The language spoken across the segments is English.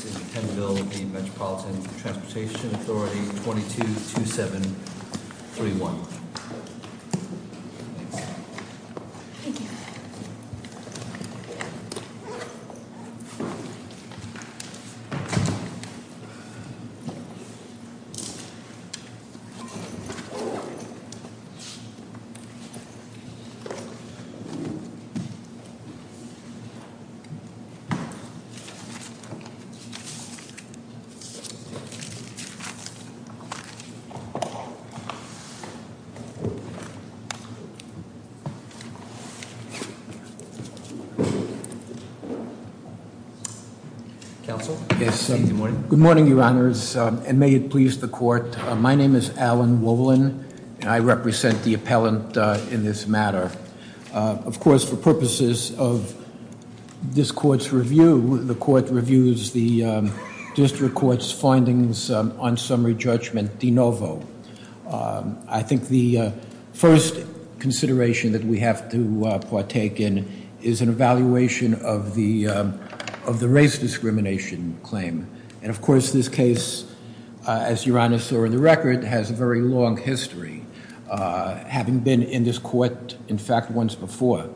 222731. Good morning, Your Honors, and may it please the court. My name is Alan Wolin, and I represent the appellant in this matter. Of course, for purposes of this court's review, the court reviews the district court's findings on summary judgment de novo. I think the first consideration that we have to partake in is an evaluation of the race discrimination claim. And of course, this case, as Your Honor saw in the record, has a very long history. Having been in this court, in fact, once before.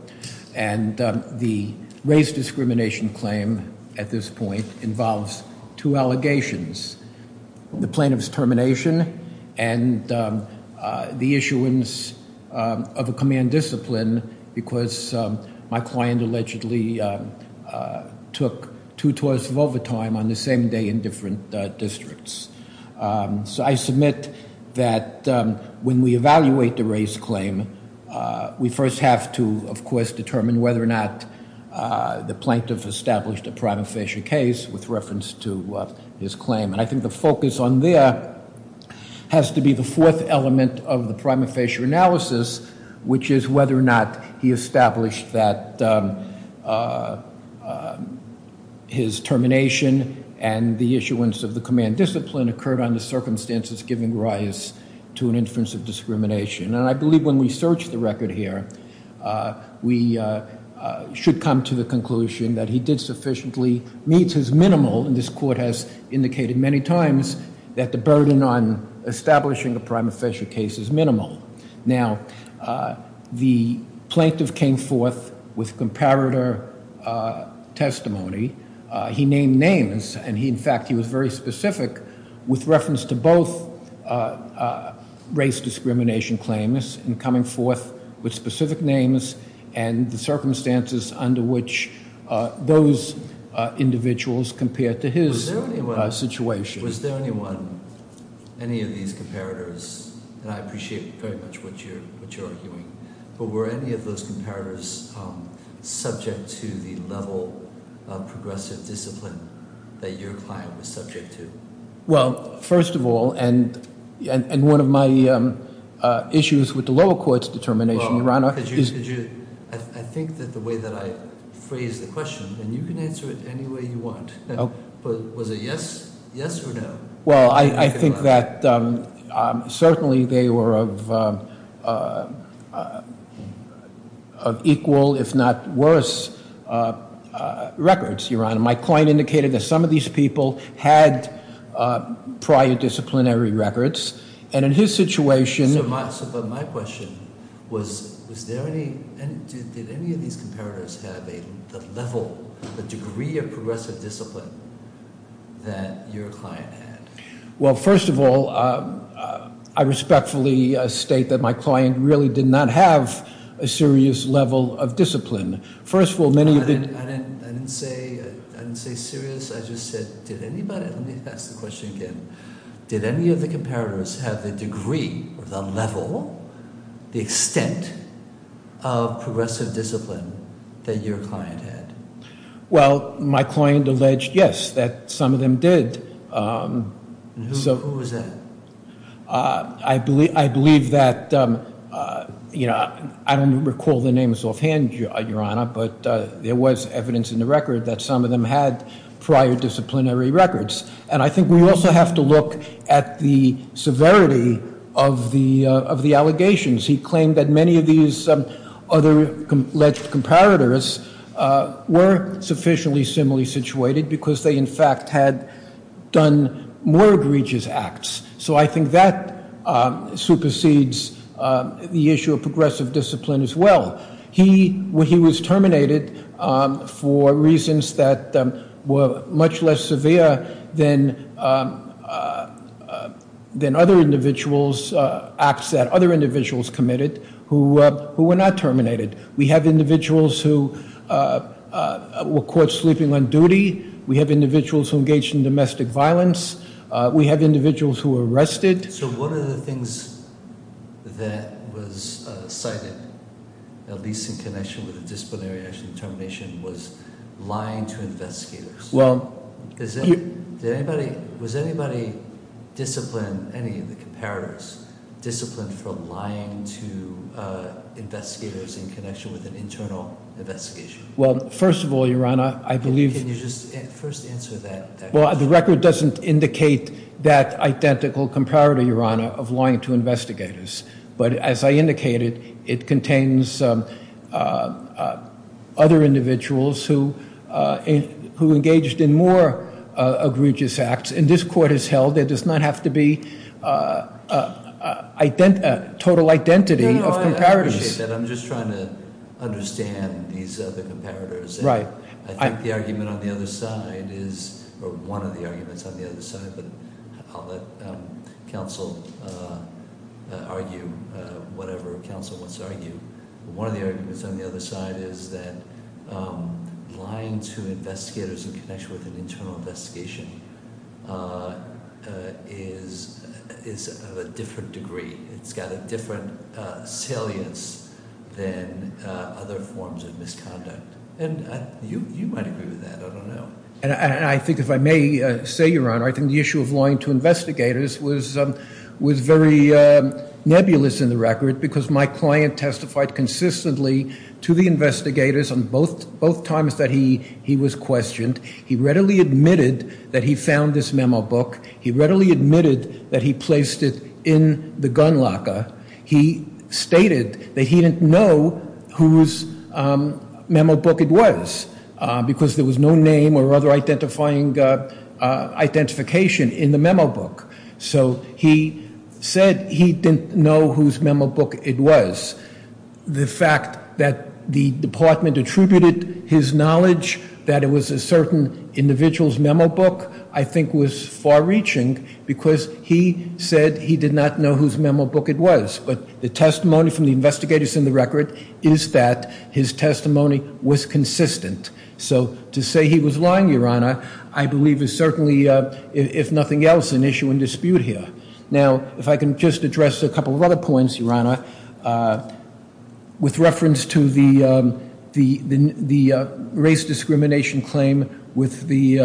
And the race discrimination claim, at this point, involves two allegations. The plaintiff's termination and the issuance of a command discipline, because my client allegedly took two tours of overtime on the same day in different districts. So I submit that when we evaluate the race claim, we first have to, of course, determine whether or not the plaintiff established a prima facie case with reference to his claim. And I think the focus on there has to be the fourth element of the prima facie analysis, which is whether or not he established that his termination and the issuance of the command discipline occurred under circumstances giving rise to an inference of discrimination. And I believe when we search the record here, we should come to the conclusion that he did sufficiently, meets his minimal, and this court has indicated many times that the burden on establishing a prima facie case is minimal. Now, the plaintiff came forth with comparator testimony. He named names, and he, in fact, he was very specific with reference to both race discrimination claimants in coming forth with specific names and the circumstances under which those individuals compared to his situation. Was there anyone, any of these comparators, and I appreciate very much what you're arguing, but were any of those comparators subject to the level of progressive discipline that your client was subject to? Well, first of all, and one of my issues with the lower court's determination, Your Honor- Could you, I think that the way that I phrased the question, and you can answer it any way you want, but was it yes, yes or no? Well, I think that certainly they were of equal, if not worse, records, Your Honor. My client indicated that some of these people had prior disciplinary records. And in his situation- So, but my question was, was there any, did any of these comparators have a level, a degree of progressive discipline that your client had? Well, first of all, I respectfully state that my client really did not have a serious level of discipline. First of all, many of the- I didn't say serious, I just said, did anybody, let me ask the question again. Did any of the comparators have the degree, or the level, the extent of progressive discipline that your client had? Well, my client alleged, yes, that some of them did. And who was that? I believe that, I don't recall the names offhand, Your Honor, but there was evidence in the record that some of them had prior disciplinary records. And I think we also have to look at the severity of the allegations. He claimed that many of these other alleged comparators were sufficiently similarly situated because they in fact had done more egregious acts. So I think that supersedes the issue of progressive discipline as well. He was terminated for reasons that were much less severe than other individuals, acts that other individuals committed, who were not terminated. We have individuals who were caught sleeping on duty. We have individuals who engaged in domestic violence. We have individuals who were arrested. So one of the things that was cited, at least in connection with the disciplinary action termination, was lying to investigators. Well, was anybody disciplined, any of the comparators, disciplined for lying to investigators in connection with an internal investigation? Well, first of all, Your Honor, I believe- Can you just first answer that question? Well, the record doesn't indicate that identical comparator, Your Honor, of lying to investigators. But as I indicated, it contains other individuals who engaged in more egregious acts. And this court has held there does not have to be total identity of comparators. No, no, I appreciate that. I'm just trying to understand these other comparators. Right. I think the argument on the other side is, or one of the arguments on the other side, but I'll let counsel argue whatever counsel wants to argue. One of the arguments on the other side is that lying to investigators in connection with an internal investigation is of a different degree. It's got a different salience than other forms of misconduct. And you might agree with that, I don't know. And I think if I may say, Your Honor, I think the issue of lying to investigators was very nebulous in the record, because my client testified consistently to the investigators on both times that he was questioned. He readily admitted that he found this memo book. He readily admitted that he placed it in the gun locker. He stated that he didn't know whose memo book it was, because there was no name or other identifying identification in the memo book. So he said he didn't know whose memo book it was. The fact that the department attributed his knowledge that it was a certain individual's memo book, I think was far reaching, because he said he did not know whose memo book it was. But the testimony from the investigators in the record is that his testimony was consistent. So to say he was lying, Your Honor, I believe is certainly, if nothing else, an issue in dispute here. Now, if I can just address a couple of other points, Your Honor, with reference to the race discrimination claim with the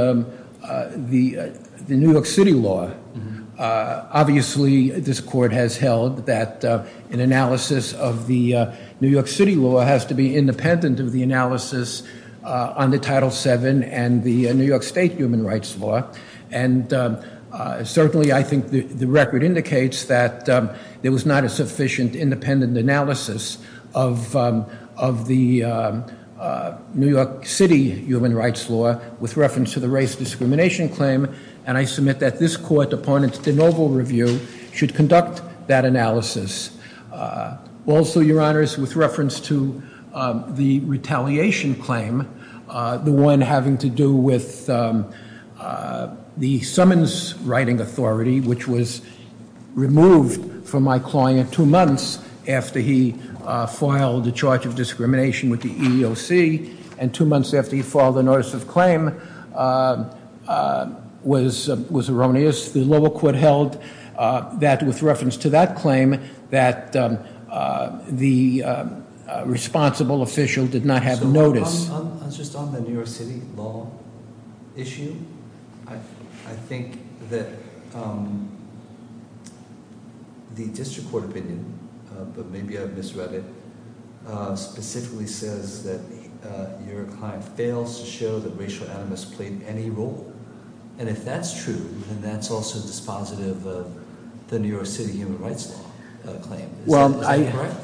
New York City law, obviously, this court has held that an analysis of the New York City law has to be independent of the analysis on the Title VII and the New York State human rights law. And certainly, I think the record indicates that there was not a sufficient independent analysis of the New York City human rights law with reference to the race discrimination claim. And I submit that this court, upon its de novo review, should conduct that analysis. Also, Your Honors, with reference to the retaliation claim, the one having to do with the summons writing authority, which was removed from my client two months after he filed the charge of discrimination with the EEOC, and two months after he filed a notice of claim, was erroneous, the lower court held that with reference to that claim, that the responsible official did not have notice. I was just on the New York City law issue. I think that the district court opinion, but maybe I misread it, specifically says that your client fails to show that racial animus played any role. And if that's true, then that's also dispositive of the New York City human rights law claim. Is that correct?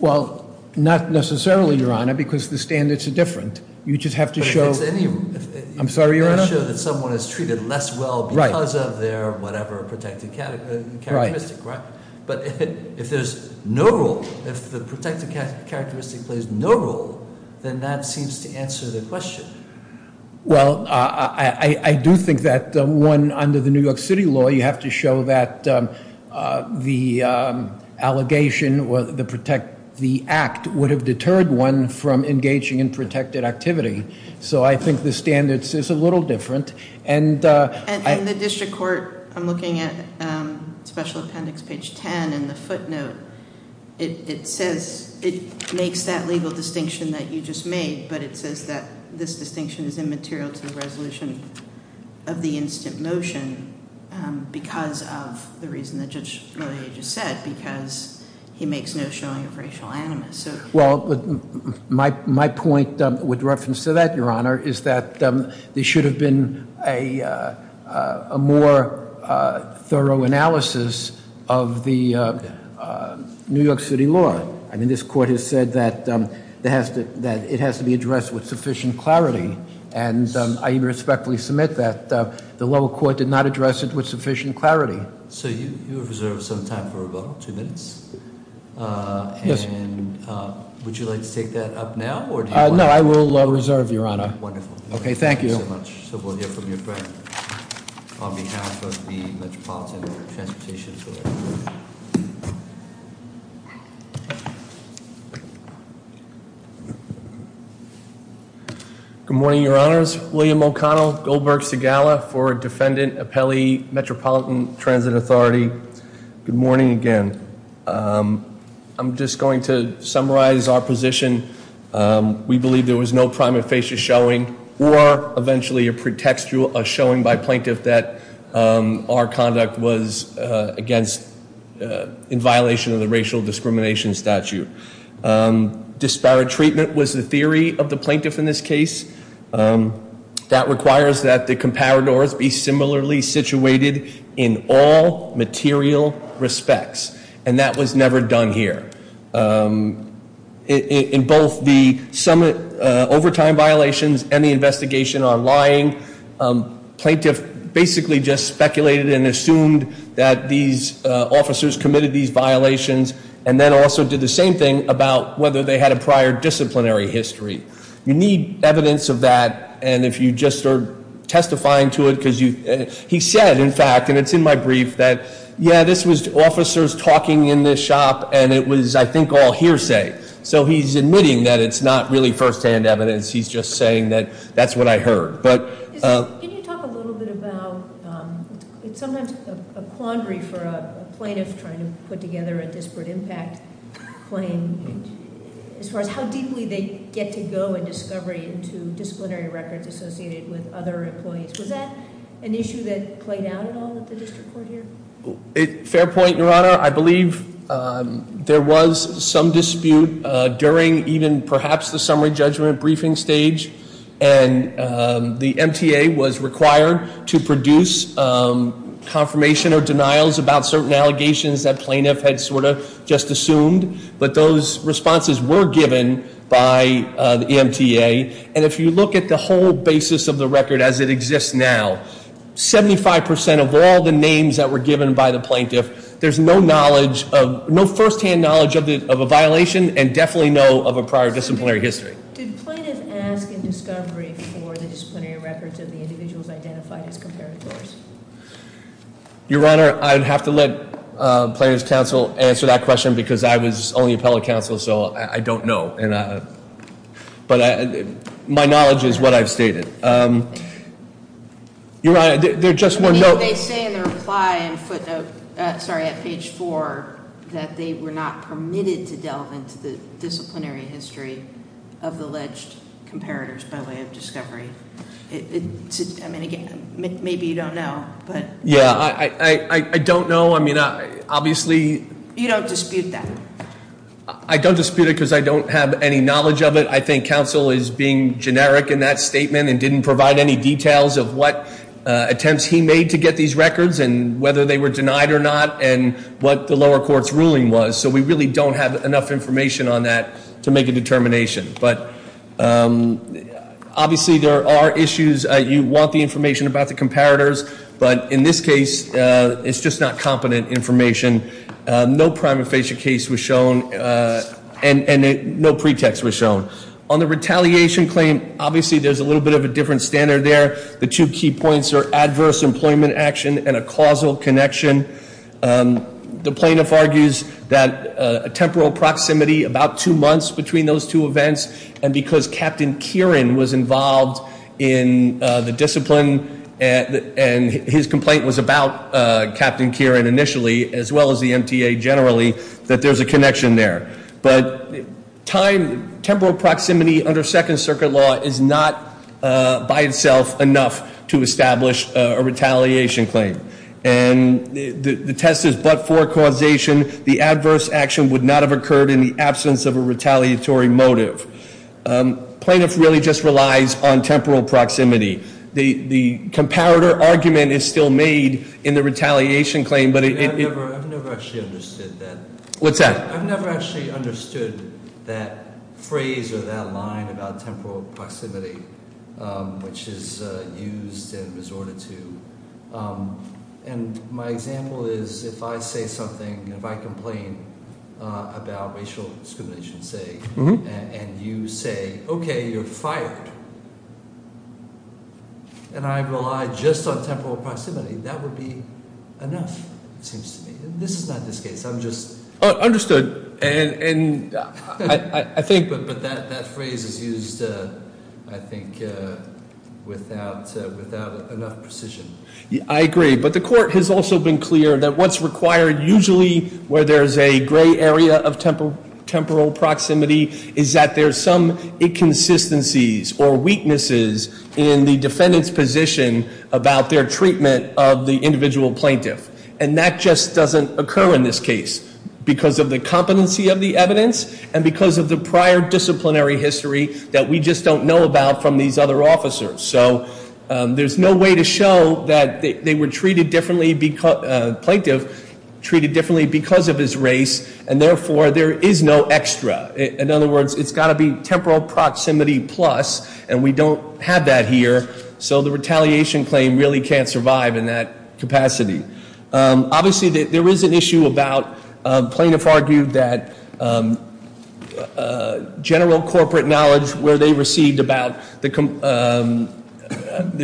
Well, not necessarily, Your Honor, because the standards are different. You just have to show- But it's any- I'm sorry, Your Honor? It's to show that someone is treated less well because of their whatever protected characteristic, right? But if there's no role, if the protected characteristic plays no role, then that seems to answer the question. Well, I do think that one, under the New York City law, you have to show that the allegation or the act would have deterred one from engaging in protected activity. So I think the standards is a little different. And- And in the district court, I'm looking at special appendix page ten in the footnote. It says, it makes that legal distinction that you just made, but it says that this distinction is immaterial to the resolution of the instant motion because of the reason the judge really just said, because he makes no showing of racial animus. Well, my point with reference to that, Your Honor, is that there should have been a more thorough analysis of the New York City law. I mean, this court has said that it has to be addressed with sufficient clarity. And I respectfully submit that the lower court did not address it with sufficient clarity. So you have reserved some time for rebuttal, two minutes. And would you like to take that up now, or do you want to- No, I will reserve, Your Honor. Okay, thank you. Thank you so much. So we'll hear from your friend on behalf of the Metropolitan Transportation Authority. Good morning, Your Honors. William O'Connell, Goldberg Segala for Defendant Appellee, Metropolitan Transit Authority. Good morning again. I'm just going to summarize our position. We believe there was no prime of facial showing or eventually a pretextual showing by plaintiff that our conduct was against, in violation of the racial discrimination statute. Disparate treatment was the theory of the plaintiff in this case. That requires that the comparators be similarly situated in all material respects. And that was never done here. In both the summit overtime violations and the investigation on lying, plaintiff basically just speculated and assumed that these officers committed these violations. And then also did the same thing about whether they had a prior disciplinary history. You need evidence of that, and if you just are testifying to it, because he said, in fact, and it's in my brief, that yeah, this was officers talking in this shop, and it was, I think, all hearsay. So he's admitting that it's not really firsthand evidence. He's just saying that that's what I heard. But- Can you talk a little bit about, it's sometimes a quandary for a plaintiff trying to put together a disparate impact claim. As far as how deeply they get to go in discovery into disciplinary records associated with other employees. Was that an issue that played out at all at the district court here? Fair point, your honor. I believe there was some dispute during even perhaps the summary judgment briefing stage. And the MTA was required to produce confirmation or denials about certain allegations that plaintiff had sort of just assumed. But those responses were given by the MTA. And if you look at the whole basis of the record as it exists now, 75% of all the names that were given by the plaintiff, there's no firsthand knowledge of a violation and definitely no of a prior disciplinary history. Did plaintiff ask in discovery for the disciplinary records of the individuals identified as comparators? Your honor, I'd have to let plaintiff's counsel answer that question because I was only appellate counsel, so I don't know. But my knowledge is what I've stated. Your honor, there's just one note- They say in the reply and footnote, sorry, at page four, that they were not permitted to delve into the disciplinary history of the alleged comparators by way of discovery. I mean, again, maybe you don't know, but- Yeah, I don't know. I mean, obviously- You don't dispute that? I don't dispute it because I don't have any knowledge of it. I think counsel is being generic in that statement and didn't provide any details of what whether they were denied or not and what the lower court's ruling was, so we really don't have enough information on that to make a determination. But obviously there are issues, you want the information about the comparators. But in this case, it's just not competent information. No prima facie case was shown and no pretext was shown. On the retaliation claim, obviously there's a little bit of a different standard there. The two key points are adverse employment action and a causal connection. The plaintiff argues that a temporal proximity about two months between those two events and because Captain Kieran was involved in the discipline and his complaint was about Captain Kieran initially, as well as the MTA generally, that there's a connection there. But temporal proximity under second circuit law is not by itself enough to establish a retaliation claim. And the test is but for causation. The adverse action would not have occurred in the absence of a retaliatory motive. Plaintiff really just relies on temporal proximity. The comparator argument is still made in the retaliation claim, but it- I've never actually understood that. What's that? I've never actually understood that phrase or that line about temporal proximity, which is used and resorted to, and my example is if I say something, if I complain about racial discrimination, say, and you say, okay, you're fired, and I rely just on temporal proximity, that would be enough, it seems to me. This is not this case, I'm just- Understood, and I think- But that phrase is used, I think, without enough precision. I agree, but the court has also been clear that what's required usually where there's a gray area of temporal proximity is that there's some inconsistencies or weaknesses in the defendant's position about their treatment of the individual plaintiff, and that just doesn't occur in this case. Because of the competency of the evidence, and because of the prior disciplinary history that we just don't know about from these other officers. So, there's no way to show that they were treated differently because, plaintiff treated differently because of his race, and therefore, there is no extra. In other words, it's gotta be temporal proximity plus, and we don't have that here, so the retaliation claim really can't survive in that capacity. Obviously, there is an issue about, plaintiff argued that general corporate knowledge where they received about the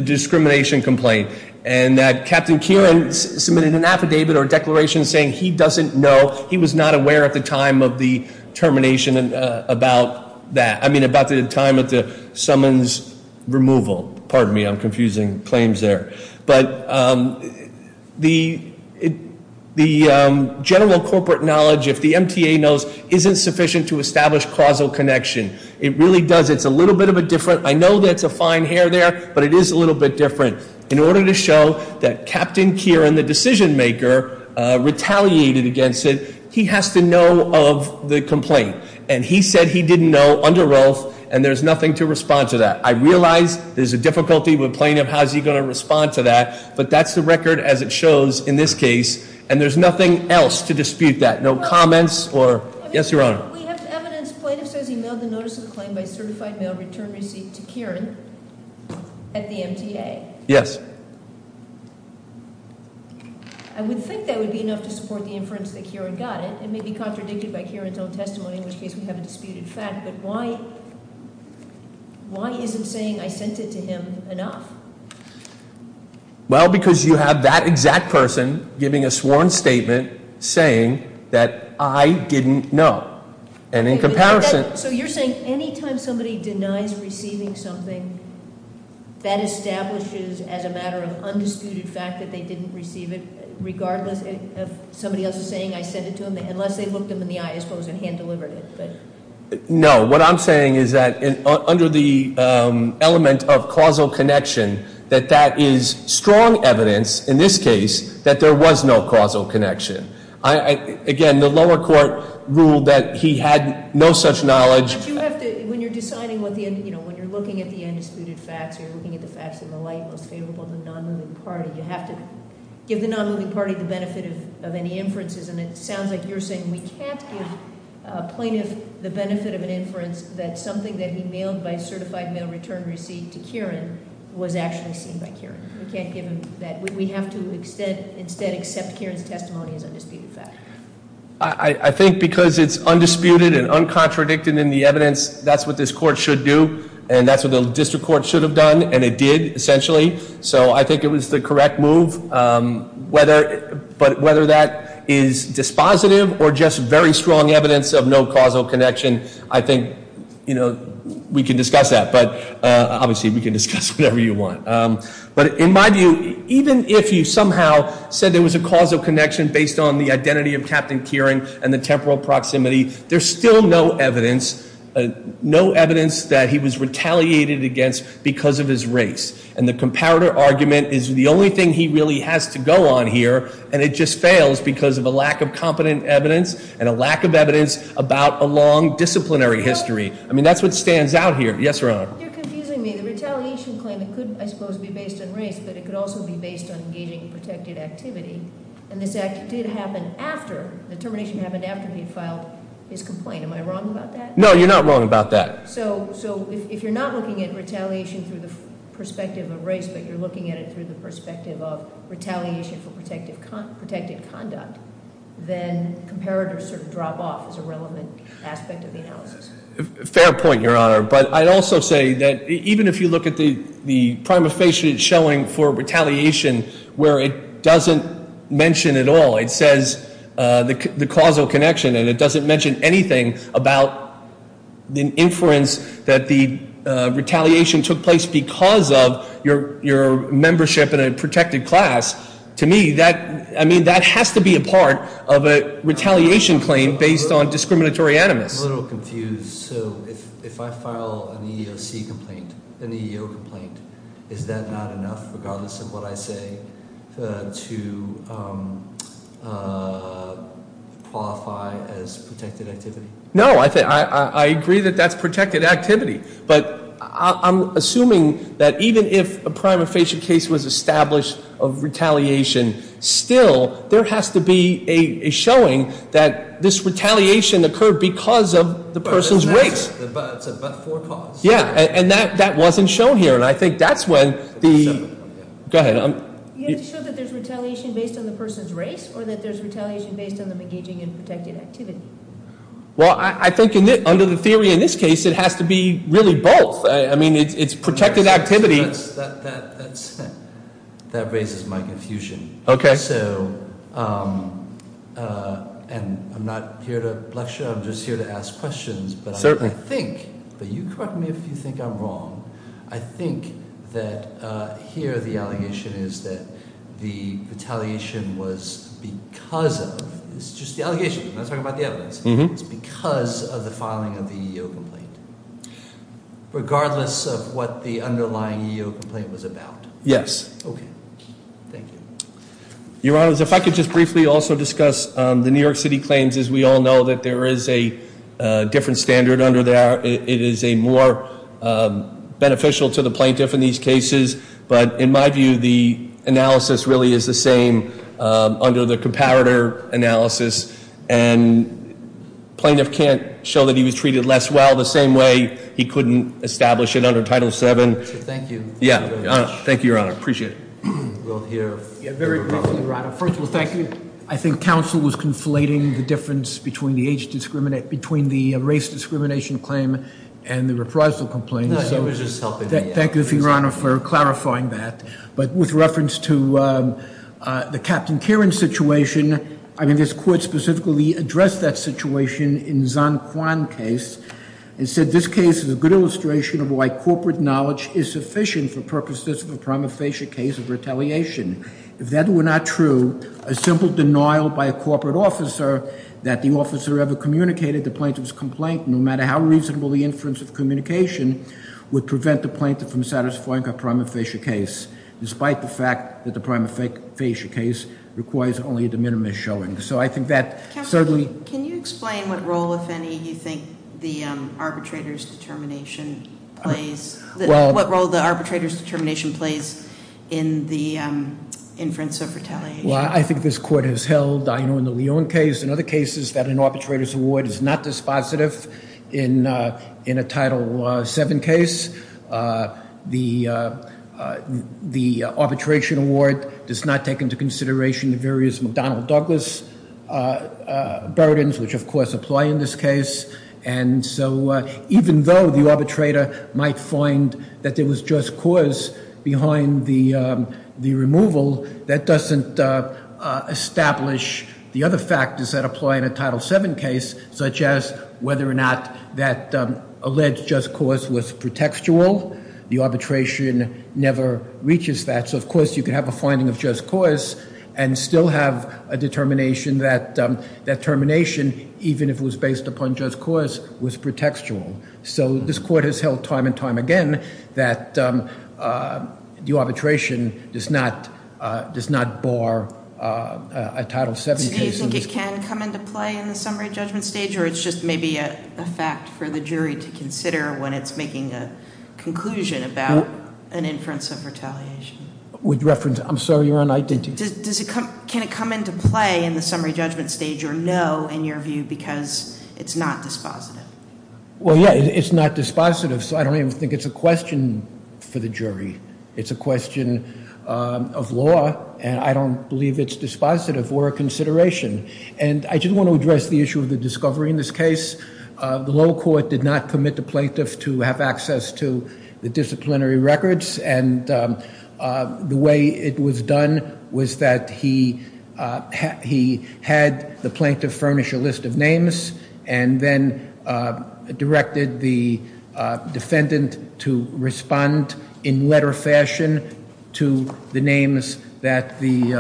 discrimination complaint. And that Captain Kieran submitted an affidavit or declaration saying he doesn't know, he was not aware at the time of the termination about that. I mean, about the time of the summons removal, pardon me, I'm confusing claims there. But the general corporate knowledge, if the MTA knows, isn't sufficient to establish causal connection. It really does, it's a little bit of a different, I know that's a fine hair there, but it is a little bit different. In order to show that Captain Kieran, the decision maker, retaliated against it, he has to know of the complaint, and he said he didn't know under oath, and there's nothing to respond to that. I realize there's a difficulty with plaintiff, how's he going to respond to that? But that's the record as it shows in this case, and there's nothing else to dispute that. No comments or, yes, your honor. We have evidence, plaintiff says he mailed a notice of claim by certified mail return receipt to Kieran at the MTA. Yes. I would think that would be enough to support the inference that Kieran got it. It may be contradicted by Kieran's own testimony, in which case we have a disputed fact. But why isn't saying I sent it to him enough? Well, because you have that exact person giving a sworn statement saying that I didn't know. And in comparison- So you're saying any time somebody denies receiving something, that establishes as a matter of undisputed fact that they didn't receive it, regardless of somebody else saying I sent it to him, unless they looked him in the eye, I suppose, and hand delivered it. No, what I'm saying is that under the element of causal connection, that that is strong evidence, in this case, that there was no causal connection. Again, the lower court ruled that he had no such knowledge. But you have to, when you're deciding, when you're looking at the undisputed facts, you're looking at the facts in the light, most favorable to the non-moving party. You have to give the non-moving party the benefit of any inferences. And it sounds like you're saying we can't give a plaintiff the benefit of an inference that something that he mailed by certified mail return receipt to Kieran was actually seen by Kieran. We can't give him that. We have to instead accept Kieran's testimony as undisputed fact. I think because it's undisputed and uncontradicted in the evidence, that's what this court should do. And that's what the district court should have done, and it did, essentially. So I think it was the correct move. But whether that is dispositive or just very strong evidence of no causal connection, I think we can discuss that, but obviously we can discuss whatever you want. But in my view, even if you somehow said there was a causal connection based on the identity of Captain Kieran and the temporal proximity, there's still no evidence that he was retaliated against because of his race. And the comparator argument is the only thing he really has to go on here, and it just fails because of a lack of competent evidence and a lack of evidence about a long disciplinary history. I mean, that's what stands out here. Yes, Your Honor. You're confusing me. The retaliation claim, it could, I suppose, be based on race, but it could also be based on engaging in protected activity. And this act did happen after, the termination happened after he had filed his complaint. Am I wrong about that? No, you're not wrong about that. So if you're not looking at retaliation through the perspective of race, but you're looking at it through the perspective of retaliation for protected conduct, then comparators sort of drop off as a relevant aspect of the analysis. Fair point, Your Honor. But I'd also say that even if you look at the prima facie showing for retaliation where it doesn't mention at all, it says the causal connection. And it doesn't mention anything about the inference that the retaliation took place because of your membership in a protected class. To me, that has to be a part of a retaliation claim based on discriminatory animus. I'm a little confused. So if I file an EEOC complaint, an EEO complaint, is that not enough regardless of what I say to qualify as protected activity? No, I agree that that's protected activity. But I'm assuming that even if a prima facie case was established of retaliation, still there has to be a showing that this retaliation occurred because of the person's race. But it's a but for cause. Yeah, and that wasn't shown here, and I think that's when the, go ahead. You have to show that there's retaliation based on the person's race, or that there's retaliation based on them engaging in protected activity. Well, I think under the theory in this case, it has to be really both. I mean, it's protected activity. That raises my confusion. Okay. So, and I'm not here to lecture, I'm just here to ask questions. But I think, but you correct me if you think I'm wrong. I think that here the allegation is that the retaliation was because of, it's just the allegation, I'm not talking about the evidence. It's because of the filing of the EEO complaint. Regardless of what the underlying EEO complaint was about. Yes. Okay. Thank you. Your Honor, if I could just briefly also discuss the New York City claims. As we all know that there is a different standard under there. It is a more beneficial to the plaintiff in these cases. But in my view, the analysis really is the same under the comparator analysis. And plaintiff can't show that he was treated less well the same way he couldn't establish it under Title VII. Thank you. Yeah. Thank you, Your Honor. Appreciate it. We'll hear- Yeah, very quickly, Your Honor. First of all, thank you. I think counsel was conflating the difference between the race discrimination claim and the reprisal complaint. No, I was just helping. Thank you, Your Honor, for clarifying that. But with reference to the Captain Karen situation, I mean this court specifically addressed that situation in Zon Kwan case. It said this case is a good illustration of why corporate knowledge is sufficient for purposes of a prima facie case of retaliation. If that were not true, a simple denial by a corporate officer that the officer ever communicated the plaintiff's complaint, no matter how reasonable the inference of communication, would prevent the plaintiff from satisfying a prima facie case. Despite the fact that the prima facie case requires only a de minimis showing. So I think that certainly- Can you explain what role, if any, you think the arbitrator's determination plays? What role the arbitrator's determination plays in the inference of retaliation? Well, I think this court has held, I know in the Leon case and other cases, that an arbitrator's award is not dispositive in a Title VII case. The arbitration award does not take into consideration the various McDonnell-Douglas burdens, which of course apply in this case. And so even though the arbitrator might find that there was just cause behind the removal, that doesn't establish the other factors that apply in a Title VII case, such as whether or not that alleged just cause was pretextual. The arbitration never reaches that. So of course, you could have a finding of just cause and still have a determination that that determination, even if it was based upon just cause, was pretextual. So this court has held time and time again that the arbitration does not bar a Title VII case. Do you think it can come into play in the summary judgment stage, or it's just maybe a fact for the jury to consider when it's making a conclusion about an inference of retaliation? With reference, I'm sorry, you're on identity. Can it come into play in the summary judgment stage, or no, in your view, because it's not dispositive? Well, yeah, it's not dispositive, so I don't even think it's a question for the jury. It's a question of law, and I don't believe it's dispositive or a consideration. And I just want to address the issue of the discovery in this case. The low court did not permit the plaintiff to have access to the disciplinary records, and the way it was done was that he had the plaintiff furnish a list of names. And then directed the defendant to respond in letter fashion to the names that the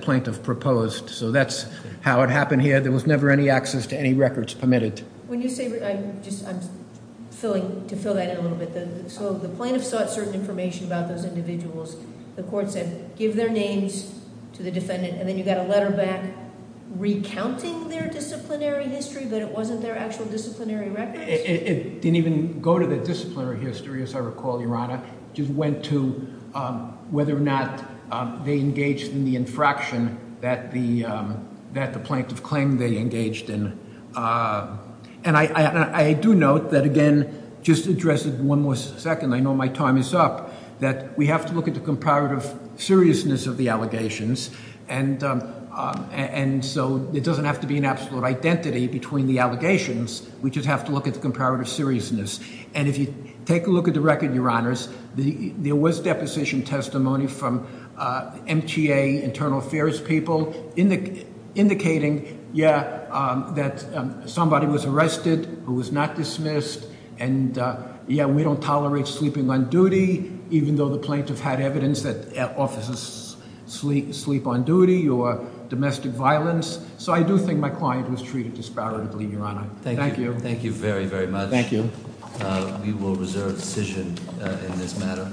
plaintiff proposed. So that's how it happened here. There was never any access to any records permitted. When you say, I'm just filling, to fill that in a little bit. So the plaintiff sought certain information about those individuals. The court said, give their names to the defendant, and then you got a letter back recounting their disciplinary history, but it wasn't their actual disciplinary records? It didn't even go to the disciplinary history, as I recall, Your Honor. Just went to whether or not they engaged in the infraction that the plaintiff claimed they engaged in. And I do note that, again, just to address it one more second. I know my time is up, that we have to look at the comparative seriousness of the allegations. And so it doesn't have to be an absolute identity between the allegations. We just have to look at the comparative seriousness. And if you take a look at the record, Your Honors, there was deposition testimony from MTA, Internal Affairs people, indicating, yeah, that somebody was arrested who was not dismissed. And yeah, we don't tolerate sleeping on duty, even though the plaintiff had evidence that officers sleep on duty or domestic violence. So I do think my client was treated disparately, Your Honor. Thank you. Thank you very, very much. Thank you. We will reserve decision in this matter.